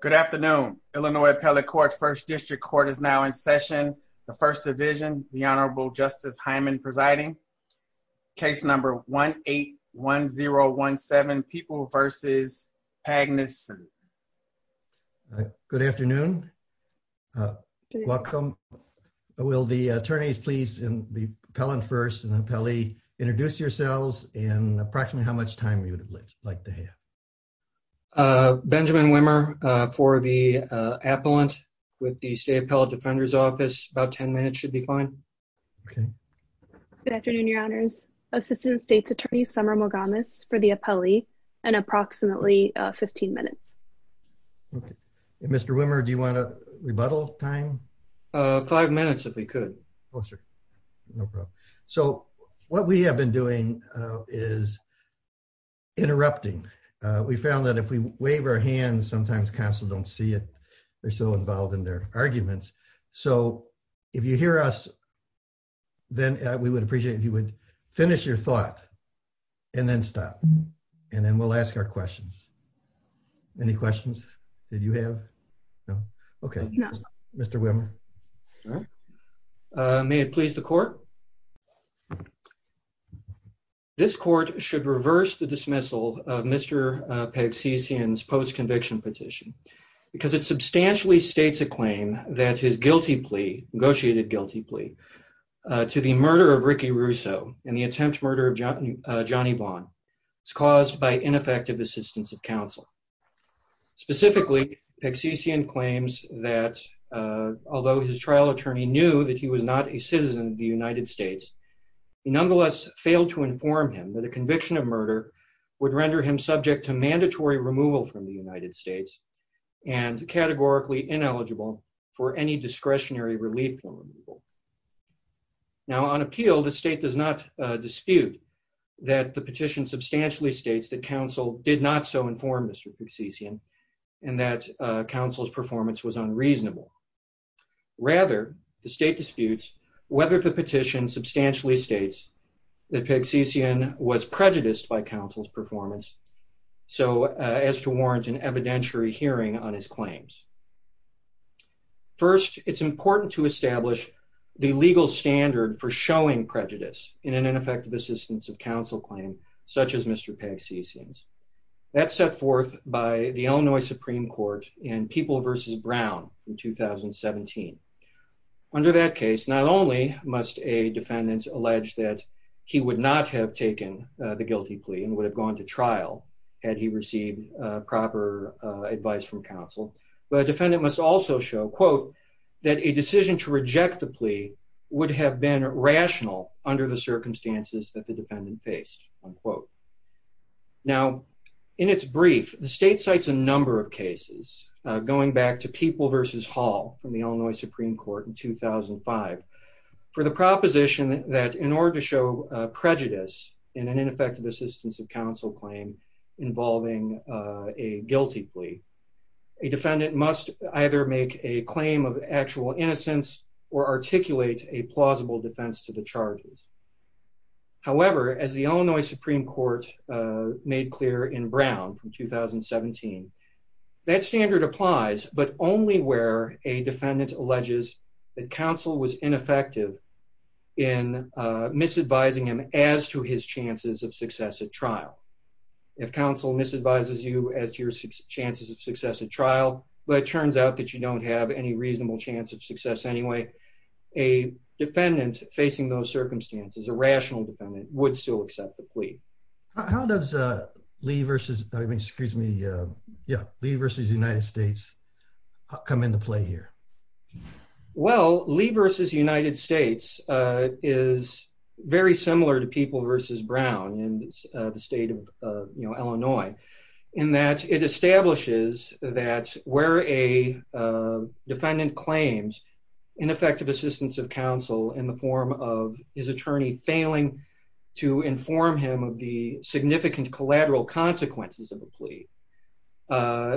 Good afternoon. Illinois Appellate Court's First District Court is now in session. The First Division, the Honorable Justice Hyman presiding. Case number 1-8-1-0-1-7, Peoples v. Pagnuson. Good afternoon. Welcome. Will the attorneys, please, and the appellant first and the appellee, introduce yourselves and approximately how much time you would like to have. Benjamin Wimmer for the appellant with the State Appellate Defender's Office, about 10 minutes should be fine. Good afternoon, your honors. Assistant State's Attorney Summer Mogames for the appellee and approximately 15 minutes. Mr. Wimmer, do you want to rebuttal time? Five minutes if we could. Oh, sure. No problem. So what we have been doing is interrupting. We found that if we wave our hands, sometimes counsel don't see it. They're so involved in their arguments. So if you hear us, then we would appreciate if you would finish your thought and then stop. And then we'll ask our questions. Any This court should reverse the dismissal of Mr. Pegsycian's post-conviction petition because it substantially states a claim that his guilty plea, negotiated guilty plea, to the murder of Ricky Russo and the attempt murder of Johnny Vaughn is caused by ineffective assistance of counsel. Specifically, Pegsycian claims that although his trial attorney knew that he was not a citizen of the United States, he nonetheless failed to inform him that a conviction of murder would render him subject to mandatory removal from the United States and categorically ineligible for any discretionary relief from removal. Now on appeal, the state does not dispute that the petition substantially states that counsel did not so inform Mr. Pegsycian and that counsel's performance was unreasonable. Rather, the state disputes whether the petition substantially states that Pegsycian was prejudiced by counsel's performance so as to warrant an evidentiary hearing on his claims. First, it's important to establish the legal standard for showing prejudice in an ineffective assistance of counsel claim such as Mr. Pegsycian's. That's set forth by the Illinois Supreme Court in People v. Brown in 2017. Under that case, not only must a defendant allege that he would not have taken the guilty plea and would have gone to trial had he received proper advice from counsel, but a defendant must also show, quote, that a decision to reject the plea would have been rational under the circumstances that the defendant faced, unquote. Now in its brief, the state cites a number of cases going back to People v. Hall from the Illinois Supreme Court in 2005 for the proposition that in order to show prejudice in an ineffective assistance of counsel claim involving a guilty plea, a defendant must either make a claim of actual innocence or articulate a plausible defense to the charges. However, as the Illinois Supreme Court made clear in Brown from 2017, that standard applies but only where a defendant alleges that counsel was ineffective in misadvising him as to his chances of success at trial. If counsel misadvises you as to your chances of success at trial, but it turns out that you don't have any reasonable chance of success anyway, a defendant facing those circumstances, a rational defendant, would still Lee v. United States come into play here? Well, Lee v. United States is very similar to People v. Brown in the state of Illinois in that it establishes that where a defendant claims ineffective assistance of counsel in the form of his attorney failing to inform him of the significant collateral consequences of a plea,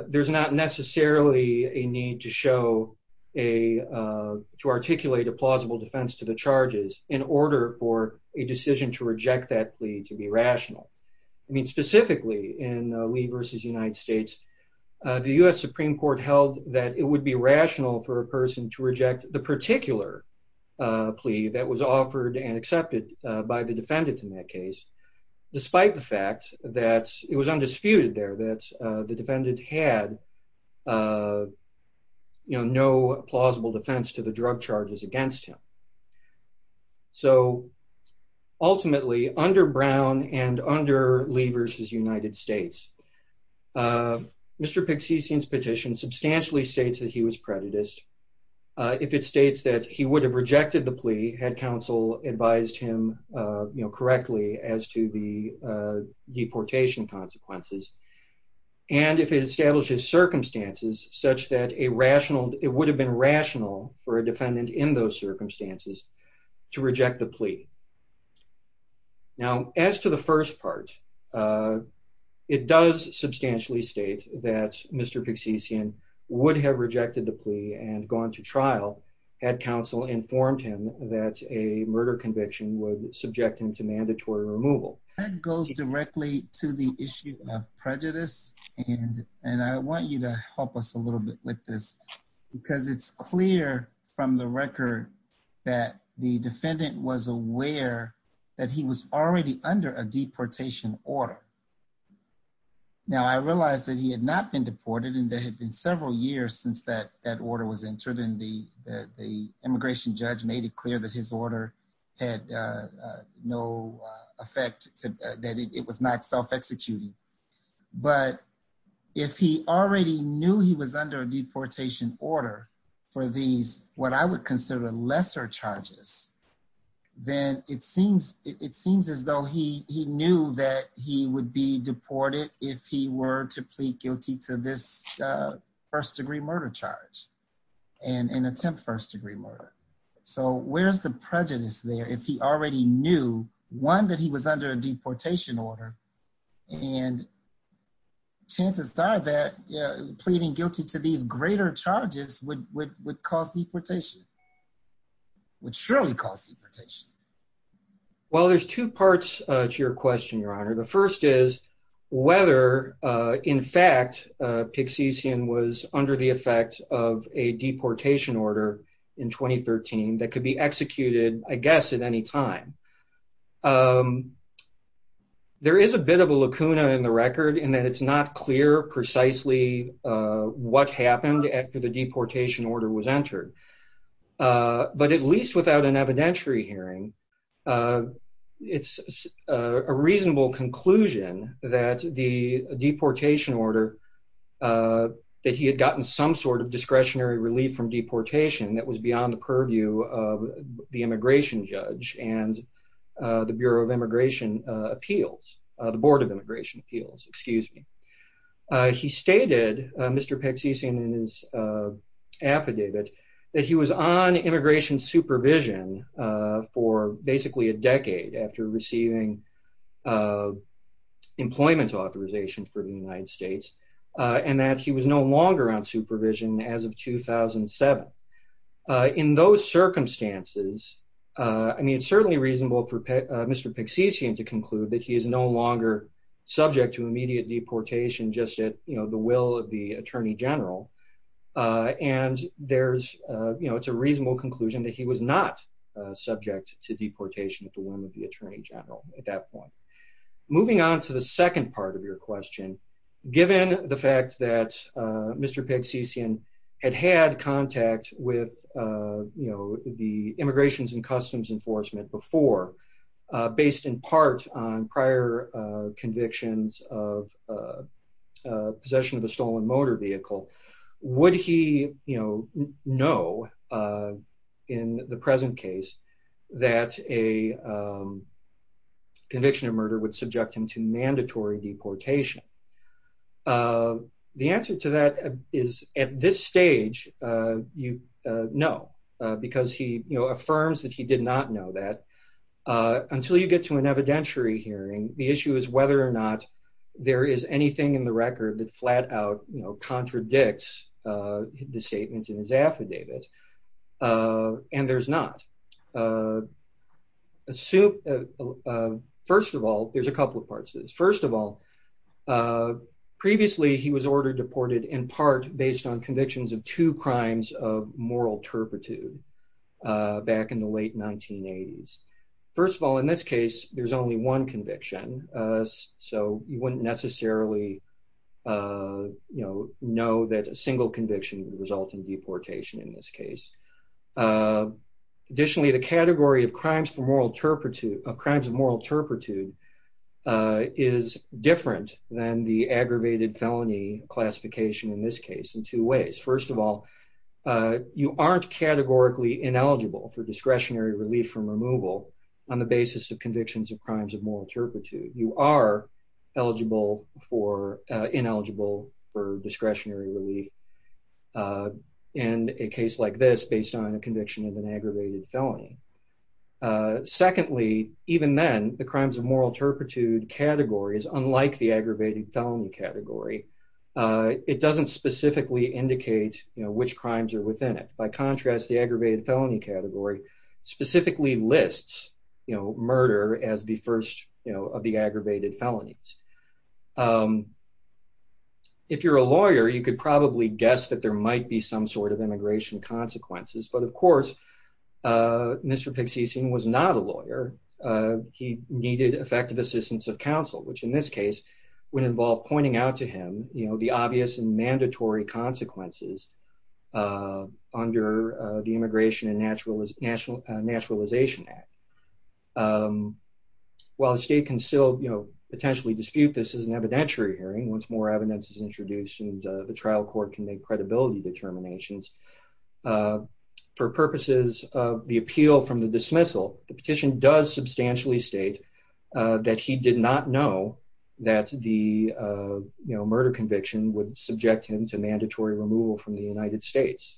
there's not necessarily a need to show, to articulate a plausible defense to the charges in order for a decision to reject that plea to be rational. I mean, specifically in Lee v. United States, the U.S. Supreme Court held that it would be rational for a person to reject the particular plea that was offered and accepted by the defendant in that case, despite the fact that it was undisputed there that the defendant had no plausible defense to the drug charges against him. So, ultimately, under Brown and under Lee v. United States, Mr. Pixician's petition substantially states that he was prejudiced. If it states that he would have rejected the plea had counsel advised him, you know, correctly as to the deportation consequences, and if it establishes circumstances such that a rational, it would have been rational for a defendant in those circumstances to reject the plea. Now, as to the first part, it does substantially state that Mr. Pixician would have rejected the plea and gone to trial had counsel informed him that a murder conviction would subject him to mandatory removal. That goes directly to the issue of prejudice, and I want you to help us a little bit with this, because it's clear from the record that the defendant was aware that he was already under a deportation order. Now, I realize that he had not been deported, and there had been several years since that order was entered, and the immigration judge made it clear that his order had no effect, that it was not self-executing, but if he already knew he was under a deportation order for these, what I would consider lesser charges, then it seems as though he knew that he would be deported if he were to plead guilty to this first-degree murder charge and attempt first-degree murder, so where's the prejudice there if he already knew, one, that he was under a deportation order, and chances are that pleading guilty to these greater charges would cause deportation, would surely cause deportation. Well, there's two parts to your question, Your Honor. The first is whether, in fact, Pixisian was under the effect of a deportation order in 2013 that could be executed, I guess, at any time. There is a bit of a lacuna in the record in that it's not clear precisely what happened after the deportation order was executed, but there is a reasonable conclusion that the deportation order, that he had gotten some sort of discretionary relief from deportation that was beyond the purview of the immigration judge and the Bureau of Immigration Appeals, the Board of Immigration Appeals, excuse me. He stated, Mr. Pixisian in his affidavit, that he was on immigration supervision for basically a decade after receiving employment authorization for the United States, and that he was no longer on supervision as of 2007. In those circumstances, I mean, it's certainly reasonable for Mr. Pixisian to conclude that he is no longer subject to immediate deportation just at, you know, the will of the Attorney General, and there's, you know, it's a reasonable conclusion that he was not subject to deportation at the will of the Attorney General at that point. Moving on to the second part of your question, given the fact that Mr. Pixisian had had contact with, you know, the Immigrations and Customs Enforcement before, based in part on prior convictions of possession of a stolen motor vehicle, would he, you know, know in the present case that a conviction of murder would subject him to mandatory deportation? The answer to that is, at this stage, you know, because he, you know, affirms that he did not know that. Until you get to an evidentiary hearing, the issue is whether or not there is anything in the record that flat out, you know, contradicts the statement in his affidavit, and there's not. First of all, there's a couple of parts to this. First of all, previously, he was ordered deported in part based on convictions of two crimes of moral turpitude back in the late 1980s. First of all, in this case, there's only one conviction, so you wouldn't necessarily, you know, know that a single conviction would result in deportation in this case. Additionally, the category of crimes for moral turpitude, of crimes of moral turpitude, is different than the aggravated felony classification in this case in two ways. First of all, you aren't categorically ineligible for discretionary relief from removal on the basis of convictions of crimes of moral turpitude. You are eligible for, ineligible for discretionary relief in a case like this based on a conviction of an aggravated felony. Secondly, even then, the crimes of moral turpitude category is unlike the aggravated felony category. It doesn't specifically indicate, you know, which crimes are within it. By contrast, the aggravated felony category specifically lists, you know, murder as the first, you know, of the aggravated felonies. If you're a lawyer, you could probably guess that there might be some sort of immigration consequences, but of course, Mr. Pixicine was not a lawyer. He needed effective assistance of counsel, which in this case would involve pointing out to him, you know, the obvious and mandatory consequences under the Immigration and Naturalization Act. While the state can still, you know, potentially dispute this as an evidentiary hearing, once more evidence is introduced and the trial court can make credibility determinations, for purposes of the appeal from the dismissal, the petition does substantially state that he did not know that the, you know, murder conviction would subject him to mandatory removal from the United States.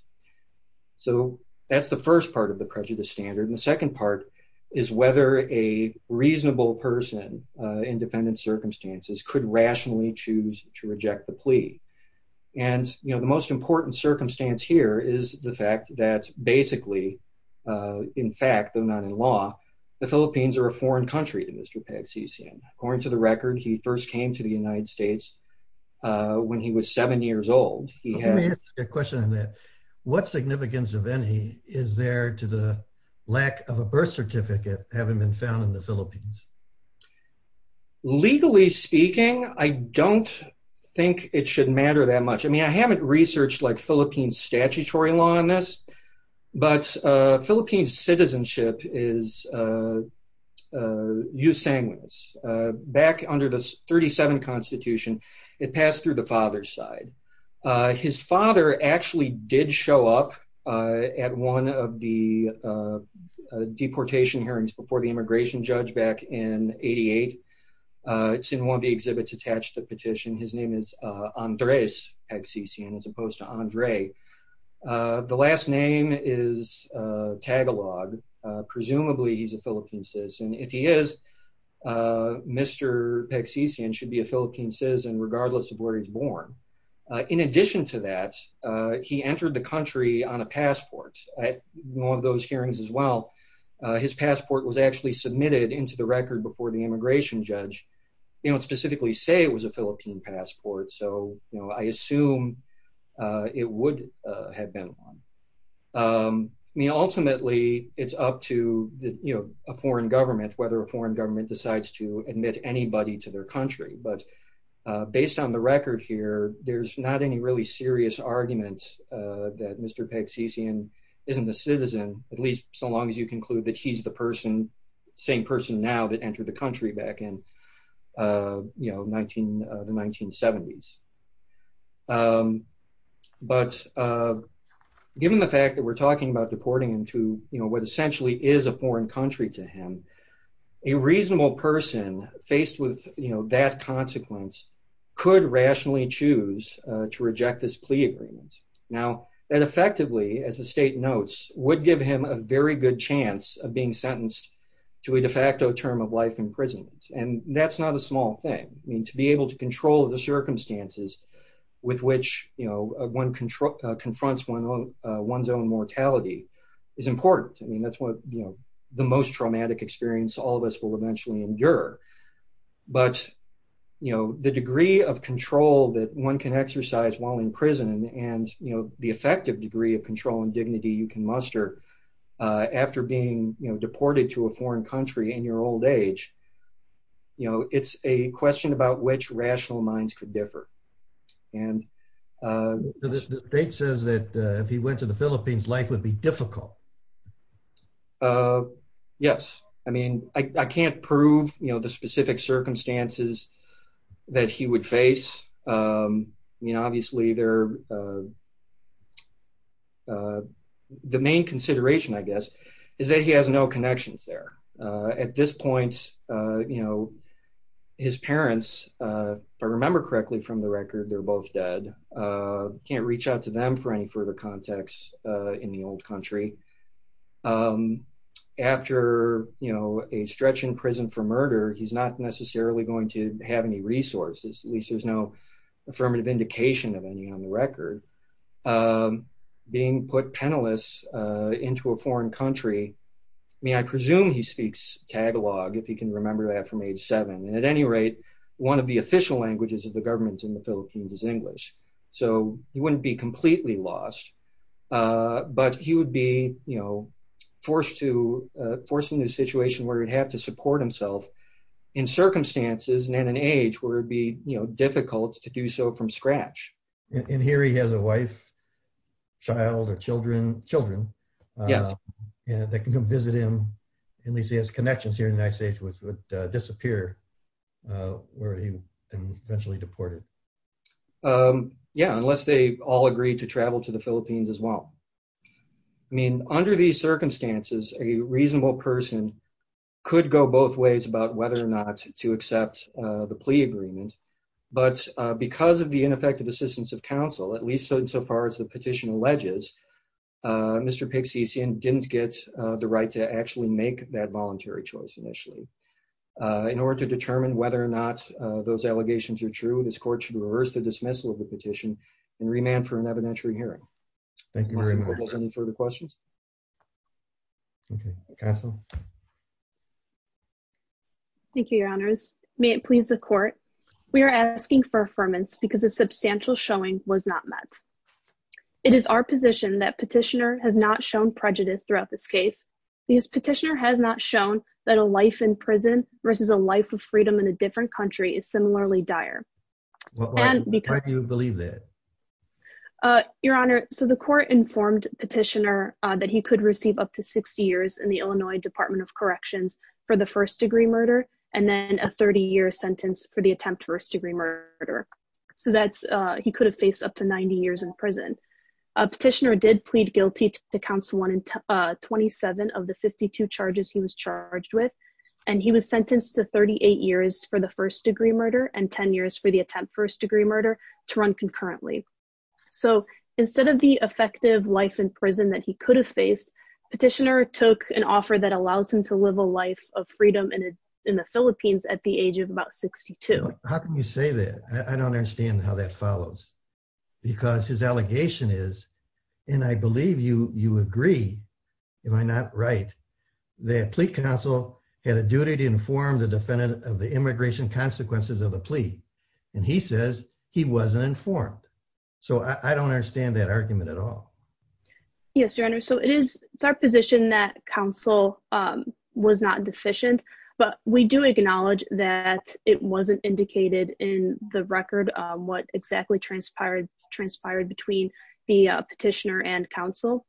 So that's the first part of the prejudice standard. And the second part is whether a reasonable person in dependent circumstances could rationally choose to reject the plea. And, you know, the most important circumstance here is the fact that basically, in fact, though not in law, the Philippines are a foreign country to Mr. Pixicine. According to the record, he first came to the United States when he was seven years old. He had a question on that. What significance of any is there to the lack of a birth certificate having been found in the Philippines? Legally speaking, I don't think it should matter that much. I mean, I haven't researched like 37 constitution. It passed through the father's side. His father actually did show up at one of the deportation hearings before the immigration judge back in 88. It's in one of the exhibits attached to the petition. His name is Andres Pixicine, as opposed to Andre. The last name is Tagalog. Presumably he's a Philippine citizen. If he is, Mr. Pixicine should be a Philippine citizen regardless of where he's born. In addition to that, he entered the country on a passport. At one of those hearings as well, his passport was actually submitted into the record before the immigration judge. They don't specifically say it was a Philippine passport. So, you know, I assume it would have been one. I mean, ultimately it's up to a foreign government, whether a foreign government decides to admit anybody to their country. But based on the record here, there's not any really serious argument that Mr. Pixicine isn't a citizen, at least so long as you conclude that he's the same person now that entered the country back in the 1970s. But given the fact that we're talking about deporting him to, you know, what essentially is a foreign country to him, a reasonable person faced with, you know, that consequence could rationally choose to reject this plea agreement. Now, that effectively, as the state notes, would give him a very good chance of being sentenced to a de facto term of life in prison. And that's not a small thing. I mean, to be able to control the circumstances with which, you know, one confronts one's own mortality is important. I mean, that's what, you know, the most traumatic experience all of us will eventually endure. But, you know, the degree of control that one can exercise while in prison and, you know, the effective degree of control and dignity you can muster after being, you know, deported to a foreign country in your old age, you know, it's a question about which rational minds could differ. And the state says that if he went to the Philippines, life would be difficult. Yes. I mean, I can't prove, you know, the specific circumstances that he would face. I mean, obviously, the main consideration, I guess, is that he has no connections there. At this point, you know, his parents, if I remember correctly from the record, they're both dead. Can't reach out to them for any further contacts in the old country. After, you know, a stretch in prison for murder, he's not necessarily going to have any resources, at least there's no affirmative indication of any on the record. I mean, I presume he speaks Tagalog, if he can remember that from age seven. And at any rate, one of the official languages of the government in the Philippines is English. So he wouldn't be completely lost. But he would be, you know, forced to, forced into a situation where he'd have to support himself in circumstances and at an age where it'd be, you know, difficult to do so from scratch. And here he has a wife, child or children, children. Yeah, they can come visit him. At least he has connections here in the United States, which would disappear where he eventually deported. Yeah, unless they all agreed to travel to the Philippines as well. I mean, under these circumstances, a reasonable person could go both ways about whether or not to accept the plea agreement. But because of the ineffective assistance of counsel, at least so far as the petition alleges, Mr. Pixiesian didn't get the right to actually make that voluntary choice initially. In order to determine whether or not those allegations are true, this court should reverse the dismissal of the petition and remand for an evidentiary hearing. Any further questions? Okay. Thank you, your honors. May it please the court. We are asking for affirmance because a substantial showing was not met. It is our position that petitioner has not shown prejudice throughout this case. This petitioner has not shown that a life in prison versus a life of freedom in a different country is similarly dire. Why do you believe that? Your honor, so the court informed petitioner that he could receive up to 60 years in the Illinois Department of Corrections for the first degree murder and then a 30-year sentence for the attempt first degree murder. So that's, he could have faced up to 90 years in prison. A petitioner did plead guilty to Council 127 of the 52 charges he was charged with, and he was sentenced to 38 years for the first degree murder and 10 years for the attempt first murder to run concurrently. So instead of the effective life in prison that he could have faced, petitioner took an offer that allows him to live a life of freedom in the Philippines at the age of about 62. How can you say that? I don't understand how that follows because his allegation is, and I believe you agree, am I not right, that plea counsel had a duty to inform the defendant of the immigration consequences of the plea, and he says he wasn't informed. So I don't understand that argument at all. Yes, your honor. So it is, it's our position that counsel was not deficient, but we do acknowledge that it wasn't indicated in the record what exactly transpired between the petitioner and counsel.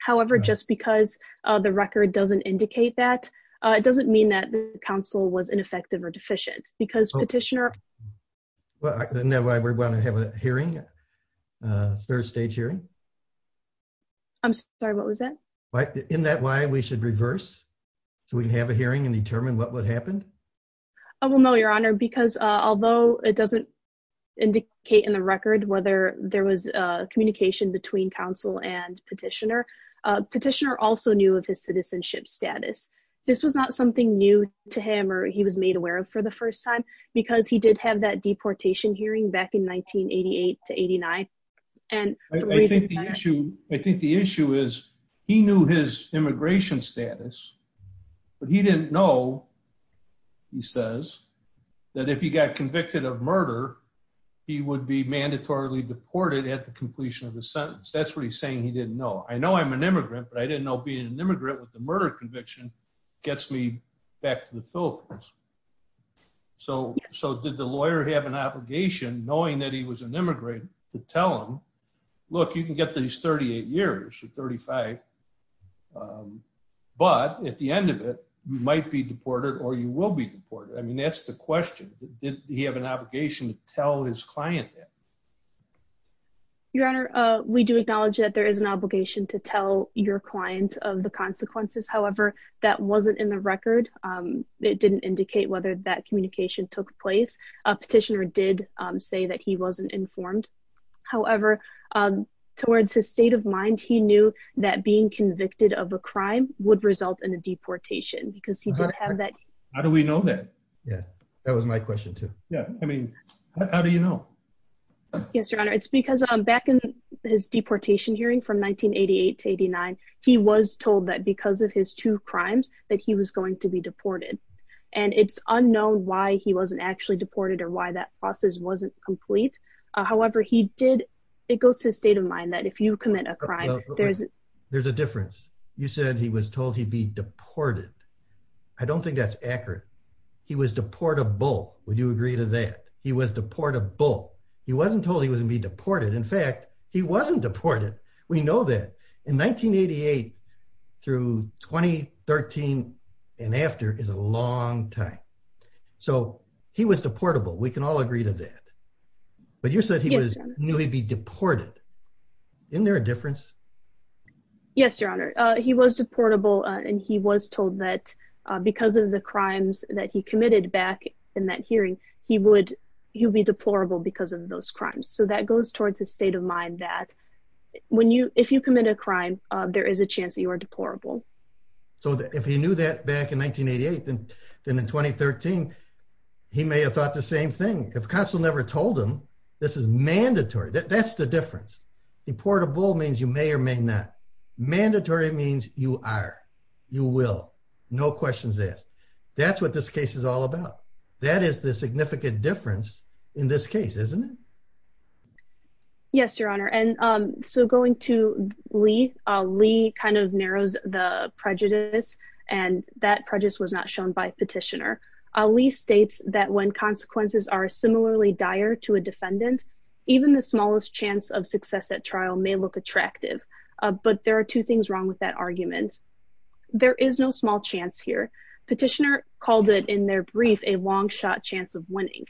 However, just because the record doesn't indicate that, it doesn't mean that the counsel was ineffective or deficient because petitioner... Well, isn't that why we're going to have a hearing, a third stage hearing? I'm sorry, what was that? Isn't that why we should reverse so we can have a hearing and determine what would happen? Oh, well, no, your honor, because although it doesn't indicate in the record whether there was a communication between counsel and petitioner, petitioner also knew of his citizenship status. This was not something new to him or he was made aware of for the first time, because he did have that deportation hearing back in 1988 to 89. I think the issue is he knew his immigration status, but he didn't know, he says, that if he got convicted of murder, he would be mandatorily deported at the completion of the sentence. That's what he's saying he didn't know. I know I'm an immigrant, but I didn't know being an immigrant with the murder conviction gets me back to the Philippines. So did the lawyer have an obligation, knowing that he was an immigrant, to tell him, look, you can get these 38 years or 35, but at the end of it, you might be deported or you will be deported. I mean, that's the question. Did he have an obligation to tell his client that? Your Honor, we do acknowledge that there is an obligation to tell your client of the consequences. However, that wasn't in the record. It didn't indicate whether that communication took place. A petitioner did say that he wasn't informed. However, towards his state of mind, he knew that being convicted of a crime would result in a deportation because he did have that. How do we know that? Yeah, that was my question too. Yeah. I mean, how do you know? Yes, Your Honor, it's because back in his deportation hearing from 1988 to 89, he was told that because of his two crimes that he was going to be deported. And it's unknown why he wasn't actually deported or why that process wasn't complete. However, he did. It goes to his state of mind that if you commit a crime, there's a difference. You said he was told he'd be deported. I don't think that's accurate. He was deportable. Would you agree to that? He was deportable. He wasn't told he was going to be deported. In fact, he wasn't deported. We know that. In 1988 through 2013 and after is a long time. So he was deportable. We can all agree to that. But you said he knew he'd be deported. Isn't there a difference? Yes, Your Honor. He was deportable and he was told that because of the crimes that he committed back in that hearing, he would be deplorable because of those crimes. So that goes towards his state of mind that if you commit a crime, there is a chance that you are deplorable. So if he knew that back in 1988, then in 2013, he may have thought the same thing. If counsel never told him this is mandatory. That's the difference. Deportable means you may or may not. Mandatory means you are. You will. No questions asked. That's what this case is all about. That is the significant difference in this case, isn't it? Yes, Your Honor. And so going to Lee, Lee kind of narrows the prejudice and that prejudice was shown by Petitioner. Lee states that when consequences are similarly dire to a defendant, even the smallest chance of success at trial may look attractive. But there are two things wrong with that argument. There is no small chance here. Petitioner called it in their brief, a long shot chance of winning.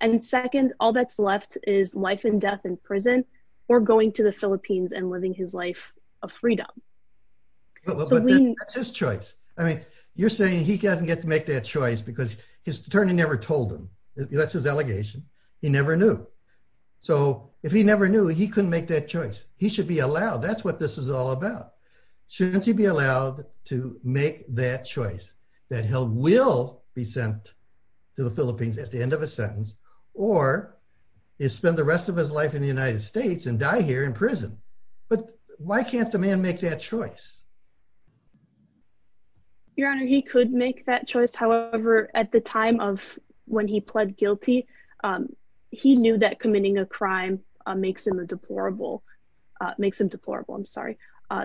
And second, all that's left is life and death in prison or going to the Philippines and living his life of freedom. But that's his choice. I mean, you're saying he doesn't get to make that choice because his attorney never told him. That's his allegation. He never knew. So if he never knew, he couldn't make that choice. He should be allowed. That's what this is all about. Shouldn't he be allowed to make that choice that he will be sent to the Philippines at the end of a sentence or spend the rest of his life in the United States and die here in prison? But why can't the man make that choice? Your Honor, he could make that choice. However, at the time of when he pled guilty, he knew that committing a crime makes him a deplorable, makes him deplorable. I'm sorry.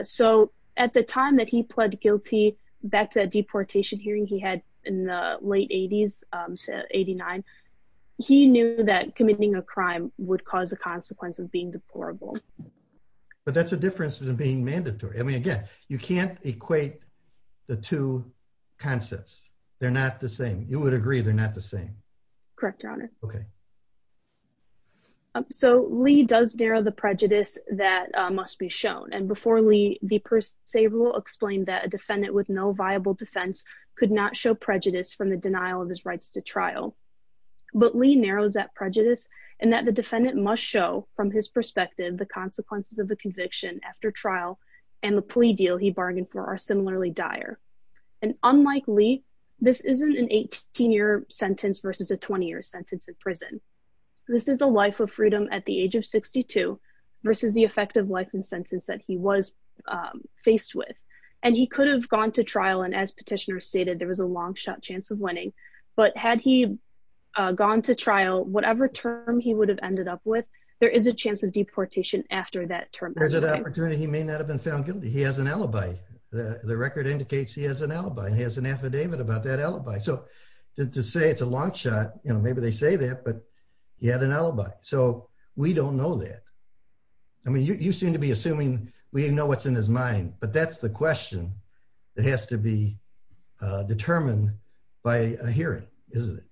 So at the time that he pled guilty back to that deportation hearing he had in the late 80s to 89, he knew that committing a crime would cause a consequence of being deplorable. But that's a difference than being mandatory. I mean, again, you can't equate the two concepts. They're not the same. You would agree they're not the same. Correct, Your Honor. Okay. So Lee does narrow the prejudice that must be shown. And before Lee, the per se rule explained that a defendant with no viable defense could not show prejudice from the denial of his rights to trial. But Lee narrows that prejudice and that the defendant must show from his perspective the consequences of the conviction after trial and the plea deal he bargained for are similarly dire. And unlike Lee, this isn't an 18-year sentence versus a 20-year sentence in prison. This is a life of freedom at the age of 62 versus the effective life and sentence that he was faced with. And he could have gone to trial, and as petitioners stated, there was a long shot chance of winning. But had he gone to trial, whatever term he would have ended up with, there is a chance of deportation after that term. There's an opportunity he may not have been found guilty. He has an alibi. The record indicates he has an alibi. He has an affidavit about that alibi. So to say it's a long shot, maybe they say that, but he had an alibi. So we don't know that. I mean, you seem to be assuming we know what's in his mind, but that's the question that has to be determined by a hearing, isn't it?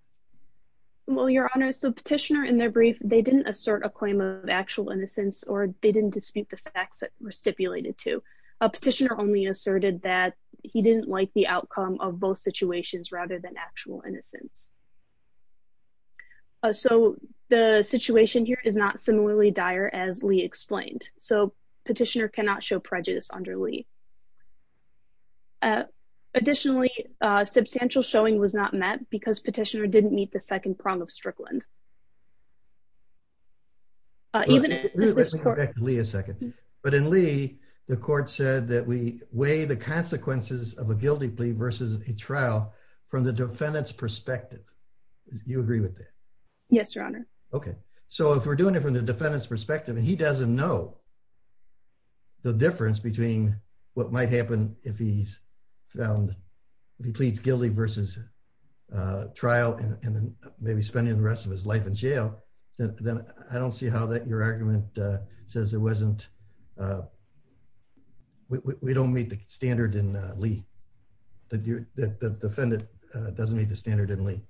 Well, Your Honor, so petitioner they didn't assert a claim of actual innocence or they didn't dispute the facts that were stipulated to. A petitioner only asserted that he didn't like the outcome of both situations rather than actual innocence. So the situation here is not similarly dire as Lee explained. So petitioner cannot show prejudice under Lee. Additionally, substantial showing was not met because petitioner didn't meet the second prong of Strickland. Even if this court... Let me go back to Lee a second. But in Lee, the court said that we weigh the consequences of a guilty plea versus a trial from the defendant's perspective. You agree with that? Yes, Your Honor. Okay. So if we're doing it from the defendant's perspective and he doesn't know the difference between what might happen if he pleads guilty versus trial and then maybe spending the rest of his life in jail, then I don't see how that your argument says it wasn't... We don't meet the standard in Lee. The defendant doesn't meet the standard in Lee.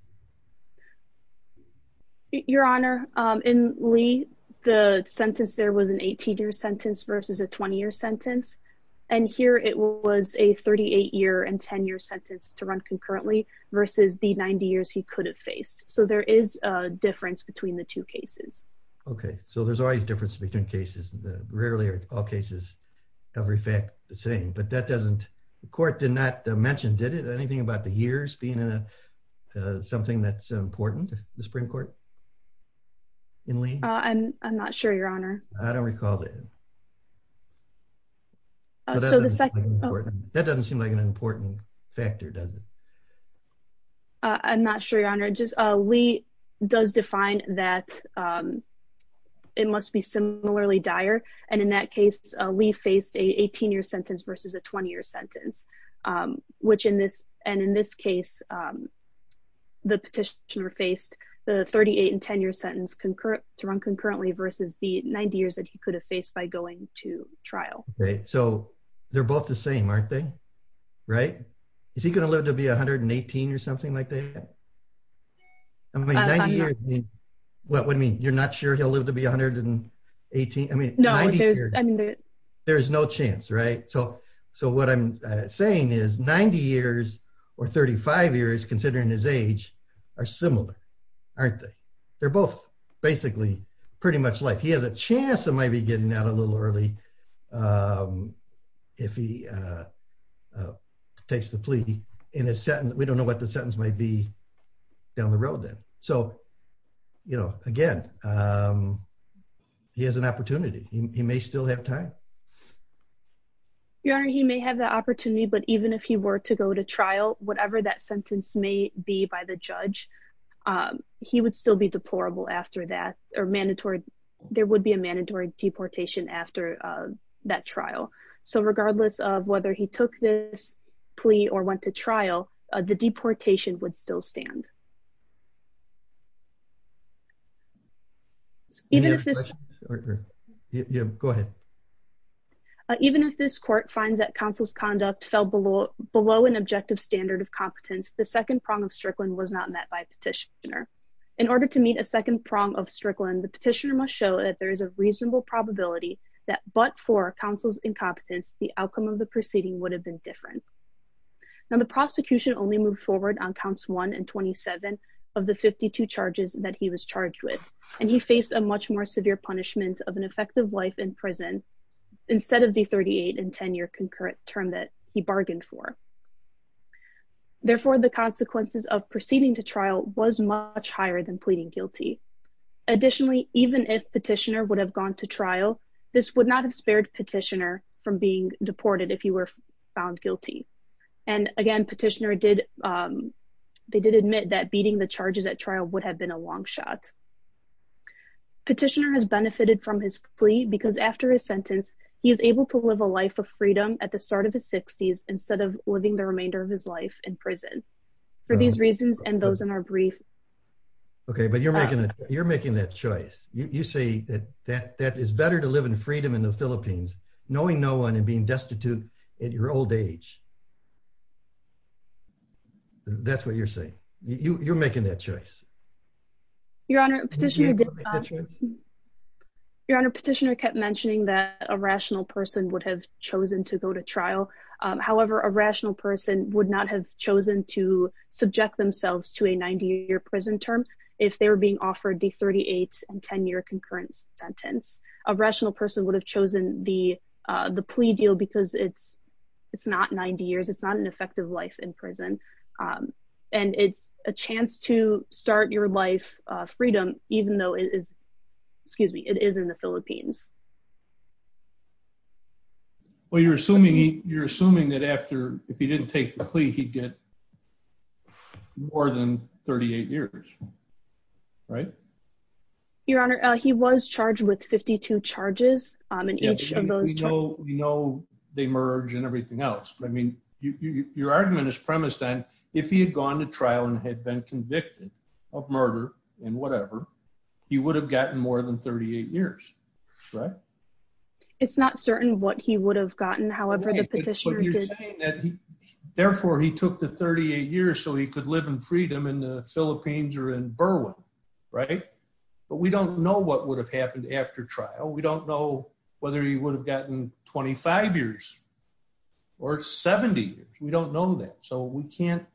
Your Honor, in Lee, the sentence there was an 18-year sentence versus a 20-year sentence. And here it was a 38-year and 10-year sentence to run concurrently versus the 90 years he could have faced. So there is a difference between the two cases. Okay. So there's always a difference between cases. Rarely are all cases, every fact the same, but that doesn't... The court did not mention, did it? Anything about the years being something that's important to the Supreme Court in Lee? I'm not sure, Your Honor. I don't recall that. That doesn't seem like an important factor, does it? I'm not sure, Your Honor. Lee does define that it must be similarly dire. And in that case, Lee faced an 18-year sentence versus a 20-year sentence, which in this... And in this case, the petitioner faced the 38 and 10-year sentence to run concurrently versus the 90 years that he could have faced by going to trial. Okay. So they're both the same, aren't they? Right? Is he going to live to be 118 or something like that? I mean, 90 years... What do you mean? You're not sure he'll live to be 118? I mean... There's no chance, right? So what I'm saying is 90 years or 35 years, considering his age, are similar, aren't they? They're both basically pretty much like he has a chance of maybe getting out a little early if he takes the plea in a sentence. We don't know what the sentence might be down the road then. So again, he has an opportunity. He may still have time. Your Honor, he may have the opportunity, but even if he were to go to trial, whatever that sentence may be by the judge, he would still be deplorable after that or mandatory... There would be a mandatory deportation after that trial. So regardless of whether he took this plea or went to trial, the deportation would still stand. Even if this court finds that counsel's conduct fell below an objective standard of competence, the second prong of Strickland was not met by petitioner. In order to meet a second prong of Strickland, the petitioner must show that there is a reasonable probability that but for counsel's incompetence, the outcome of the proceeding would have been different. Now, the prosecution only moved forward on counts one and 27 of the 52 charges that he was charged with, and he faced a much more severe punishment of an effective life in prison instead of the 38 and 10-year concurrent term that he bargained for. Therefore, the consequences of proceeding to trial was much higher than pleading guilty. Additionally, even if petitioner would have gone to trial, this would not have spared petitioner from being deported if he were found guilty. And again, petitioner did... They did admit that beating the charges at trial would have been a long shot. Petitioner has benefited from his plea because after his sentence, he is able to live a life of freedom at the start of his 60s instead of living the remainder of his life in prison. For these reasons and those in our brief... Okay, but you're making that choice. You say that it's better to live in freedom in the Philippines, knowing no one and being destitute at your old age. That's what you're saying. You're making that choice. Your Honor, petitioner... Your Honor, petitioner kept mentioning that a rational person would have chosen to go to trial. However, a rational person would not have chosen to subject themselves to a 90-year prison term if they were being offered the 38 and 10-year concurrent sentence. A rational person would have chosen the plea deal because it's not 90 years, it's not an effective life in prison. And it's a chance to start your life of freedom even though it is... Excuse me, it is in the Philippines. Well, you're assuming that after... If he didn't take the plea, he'd get more than 38 years, right? Your Honor, he was charged with 52 charges in each of those charges. We know they merge and everything else. I mean, your argument is premised on if he had gone to trial and had been convicted of murder and whatever, he would have gotten more than 38 years, right? It's not certain what he would have gotten. However, the petitioner did... Therefore, he took the 38 years so he could live in freedom in the Philippines or in Berlin, right? But we don't know what would have happened after trial. We don't know whether he would have gotten 25 years or 70 years. We don't know that. So we can't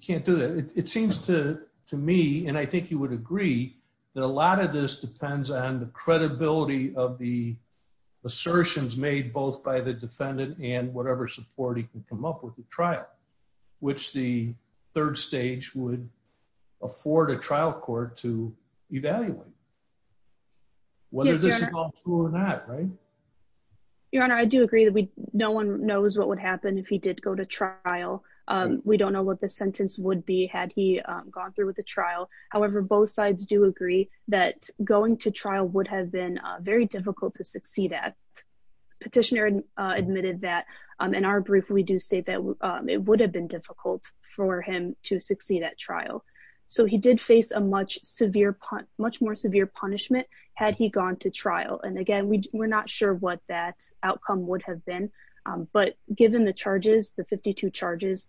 do that. It seems to me, and I think you would agree, that a lot of this depends on the credibility of the support he can come up with at trial, which the third stage would afford a trial court to evaluate. Whether this is all true or not, right? Your Honor, I do agree that no one knows what would happen if he did go to trial. We don't know what the sentence would be had he gone through with the trial. However, both sides do agree that going to trial would have been very difficult to do. In our brief, we do say that it would have been difficult for him to succeed at trial. So he did face a much more severe punishment had he gone to trial. And again, we're not sure what that outcome would have been. But given the charges, the 52 charges,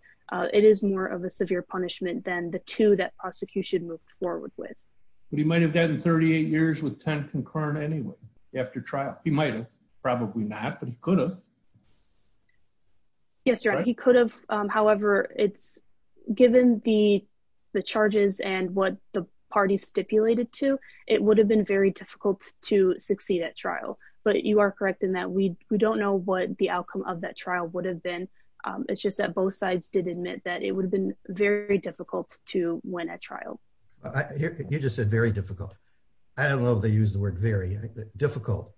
it is more of a severe punishment than the two that prosecution moved forward with. But he might have gotten 38 years with 10 anyway after trial. He might have, probably not, but he could have. Yes, Your Honor, he could have. However, given the charges and what the parties stipulated to, it would have been very difficult to succeed at trial. But you are correct in that we don't know what the outcome of that trial would have been. It's just that both sides did admit that it would have been very difficult to win at trial. You just said very difficult. I don't know if they the word very, difficult.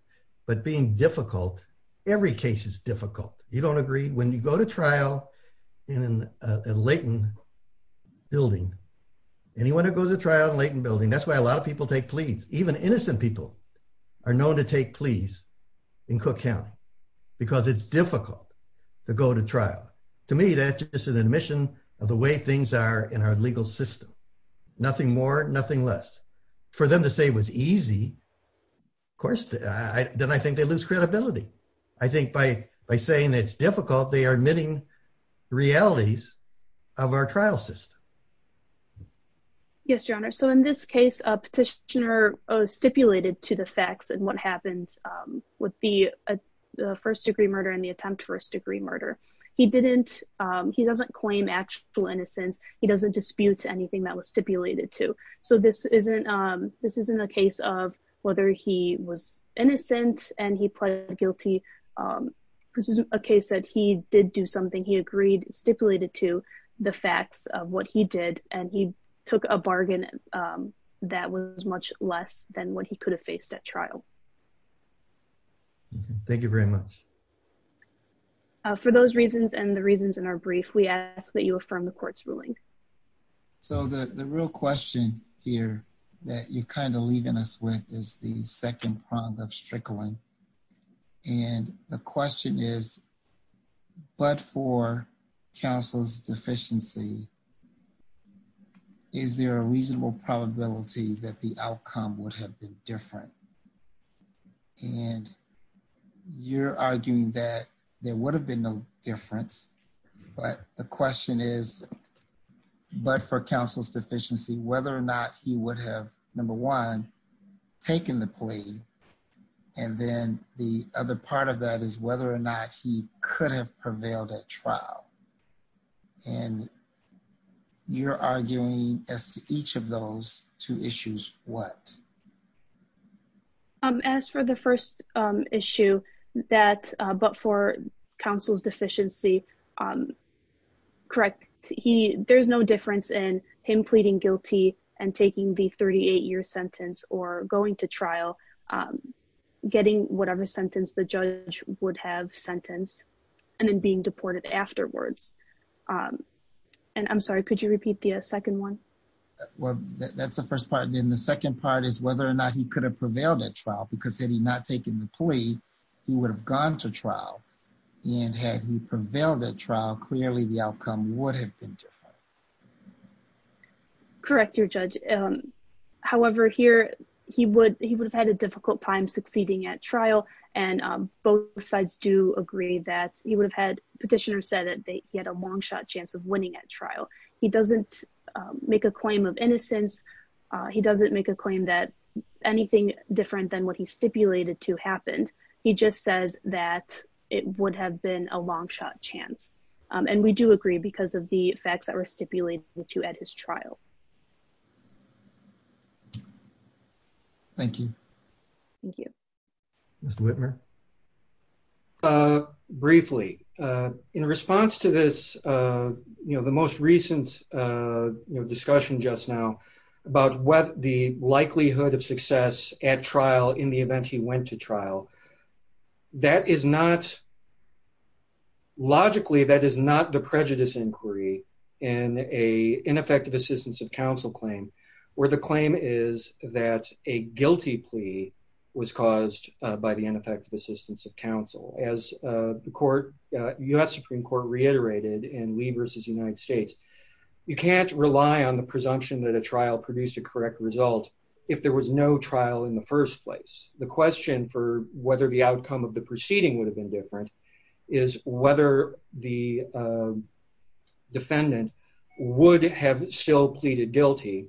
But being difficult, every case is difficult. You don't agree when you go to trial in a latent building. Anyone who goes to trial in a latent building, that's why a lot of people take pleas. Even innocent people are known to take pleas in Cook County because it's difficult to go to trial. To me, that's just an admission of the way things are in our legal system. Nothing more, nothing less. For them to say it was easy, of course, then I think they lose credibility. I think by saying it's difficult, they are admitting realities of our trial system. Yes, Your Honor. So in this case, a petitioner stipulated to the facts and what happened with the first degree murder and the attempt first degree murder. He doesn't claim actual innocence. He doesn't dispute anything that was stipulated to. So this isn't a case of whether he was innocent and he pled guilty. This is a case that he did do something. He agreed, stipulated to the facts of what he did, and he took a bargain that was much less than what he could have faced at trial. Thank you very much. For those reasons and the reasons in our brief, we ask that you affirm the court's ruling. So the real question here that you're kind of leaving us with is the second prong of strickling. And the question is, but for counsel's deficiency, is there a reasonable probability that the outcome would have been different? And you're arguing that there would have been no difference. But the question is, but for counsel's deficiency, whether or not he would have, number one, taken the plea. And then the other part of that is whether or not he could have prevailed at trial. And you're arguing as to each of those two issues, what? As for the first issue, but for counsel's deficiency, correct, there's no difference in him pleading guilty and taking the 38-year sentence or going to trial, getting whatever sentence the judge would have sentenced, and then being deported afterwards. And I'm sorry, could you repeat the second one? Well, that's the first part. And then the second part is whether or not he could have prevailed at trial, because had he not taken the plea, he would have gone to trial. And had he prevailed at trial, clearly the outcome would have been different. Correct, your judge. However, here, he would have had a difficult time succeeding at trial. And both sides do agree that he would have had, petitioner said that he had a long-shot chance of winning at trial. He doesn't make a claim of innocence. He doesn't make a claim that anything different than what he stipulated to happened. He just says that it would have been a long-shot chance. And we do agree because of the facts that were stipulated to at his trial. Thank you. Thank you. Mr. Whitmer. Briefly, in response to this, the most recent discussion just now about what the likelihood of success at trial in the event he went to trial, logically, that is not the prejudice inquiry in an ineffective assistance of counsel claim, where the claim is that a guilty plea was caused by the ineffective assistance of counsel. As the court, US Supreme Court, reiterated in Lee versus United States, you can't rely on the presumption that a trial produced a correct result if there was no trial in the first place. The question for whether the outcome of the proceeding would have been different is whether the defendant would have still pleaded guilty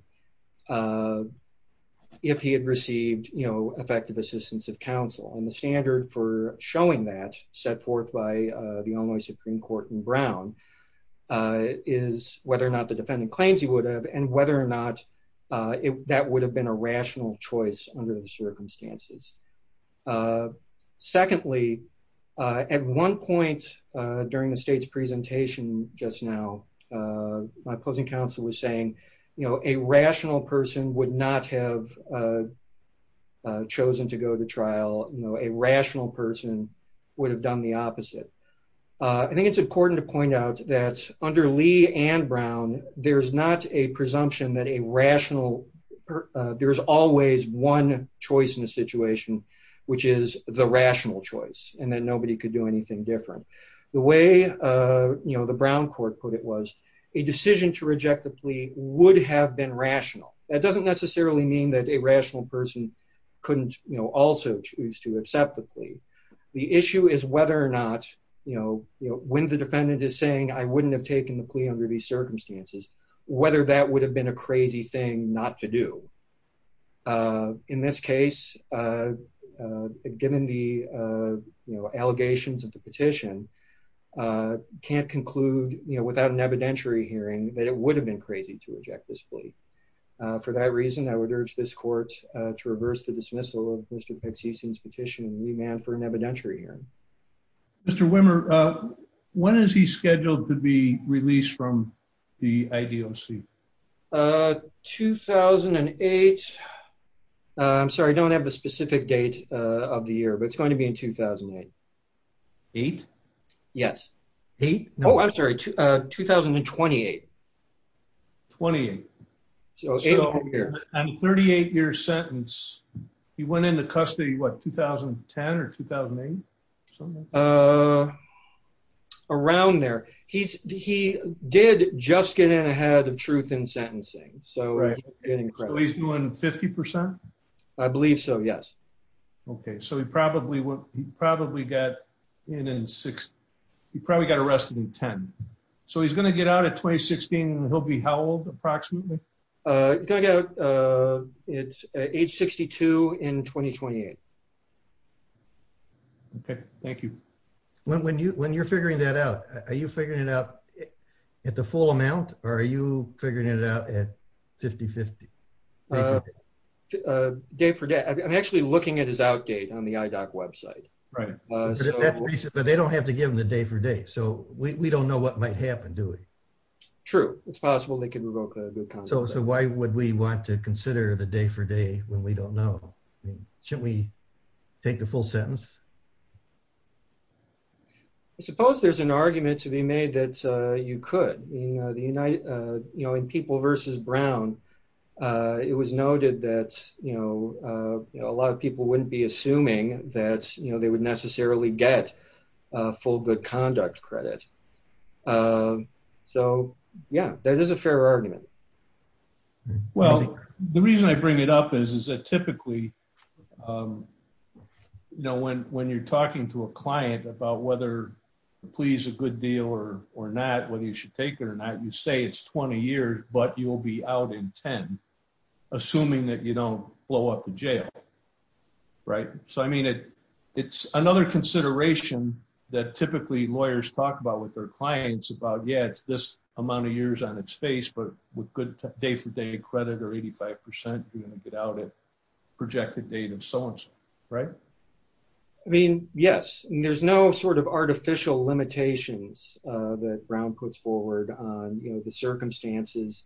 if he had received effective assistance of counsel. And the standard for showing that, set forth by the only Supreme Court in Brown, is whether or not the defendant claims he would have, and whether or not that would have been a rational choice under the circumstances. Secondly, at one point during the state's presentation just now, my opposing counsel was saying a rational person would not have chosen to go to trial. A rational person would have done the opposite. I think it's important to point out that under Lee and Brown, there's not a presumption that a rational, there's always one choice in a situation, which is the rational choice, and that nobody could do anything different. The way the Brown court put it was, a decision to reject the plea would have been rational. That doesn't necessarily mean that a rational person couldn't also choose to accept the plea. The issue is whether or not, when the whether that would have been a crazy thing not to do. In this case, given the, you know, allegations of the petition, can't conclude, you know, without an evidentiary hearing, that it would have been crazy to reject this plea. For that reason, I would urge this court to reverse the dismissal of Mr. Pezzicino's petition and remand for an evidentiary hearing. Mr. Wimmer, when is he scheduled to be released from the IDOC? 2008. I'm sorry, I don't have the specific date of the year, but it's going to be in 2008. Eighth? Yes. Oh, I'm sorry, 2028. 2028. So in a 38-year sentence, he went into custody, what, 2010 or 2008? Around there. He did just get in ahead of truth in sentencing. So he's doing 50%? I believe so, yes. Okay, so he probably got in in 60, he probably got arrested in 10. So he's going to get out at 2016, he'll be how old, approximately? It's age 62 in 2028. Okay, thank you. When you're figuring that out, are you figuring it out at the full amount, or are you figuring it out at 50-50? Day for day. I'm actually looking at his outdate on the IDOC website. Right. But they don't have to give them the day for day, so we don't know what might happen, do we? True, it's possible they could revoke a good contract. So why would we want to consider the day for day when we don't know? Shouldn't we take the full sentence? I suppose there's an argument to be made that you could. In People v. Brown, it was noted that a lot of people wouldn't be assuming that they would necessarily get a full good conduct credit. So yeah, that is a fair argument. Well, the reason I bring it up is that typically, when you're talking to a client about whether the plea is a good deal or not, whether you should take it or not, you say it's 20 years, but you'll be out in 10, assuming that you don't blow up in jail, right? So I mean, it's another consideration that typically lawyers talk about with their clients about, yeah, it's this amount of years on its face, but with good day for day credit or 85%, you're going to get out at projected date of so-and-so, right? I mean, yes. There's no sort of artificial limitations that Brown puts forward on the circumstances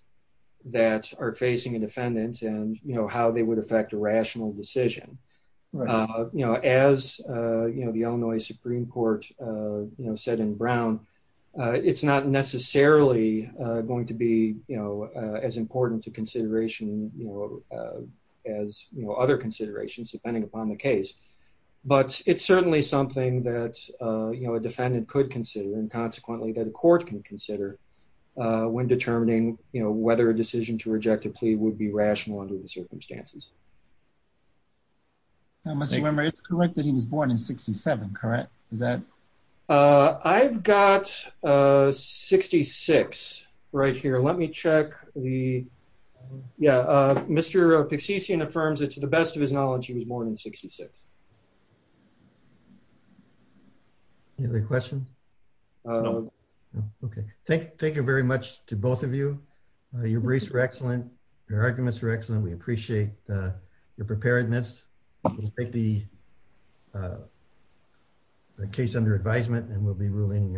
that are facing a defendant and how they would affect a rational decision. As the Illinois Supreme Court said in Brown, it's not necessarily going to be as important a consideration as other considerations, depending upon the case, but it's certainly something that a defendant could consider and consequently that a court can consider when determining whether a decision to reject a plea would be rational under the circumstances. I must remember, it's correct that he was born in 67, correct? Is that- I've got 66 right here. Let me check the, yeah, Mr. Pixician affirms that to the best of his knowledge, he was born in 66. Do you have a question? No. Okay. Thank you very much to both of you. Your briefs were excellent. Your arguments were excellent. We appreciate your preparedness. We'll take the case under advisement and we'll be ruling shortly.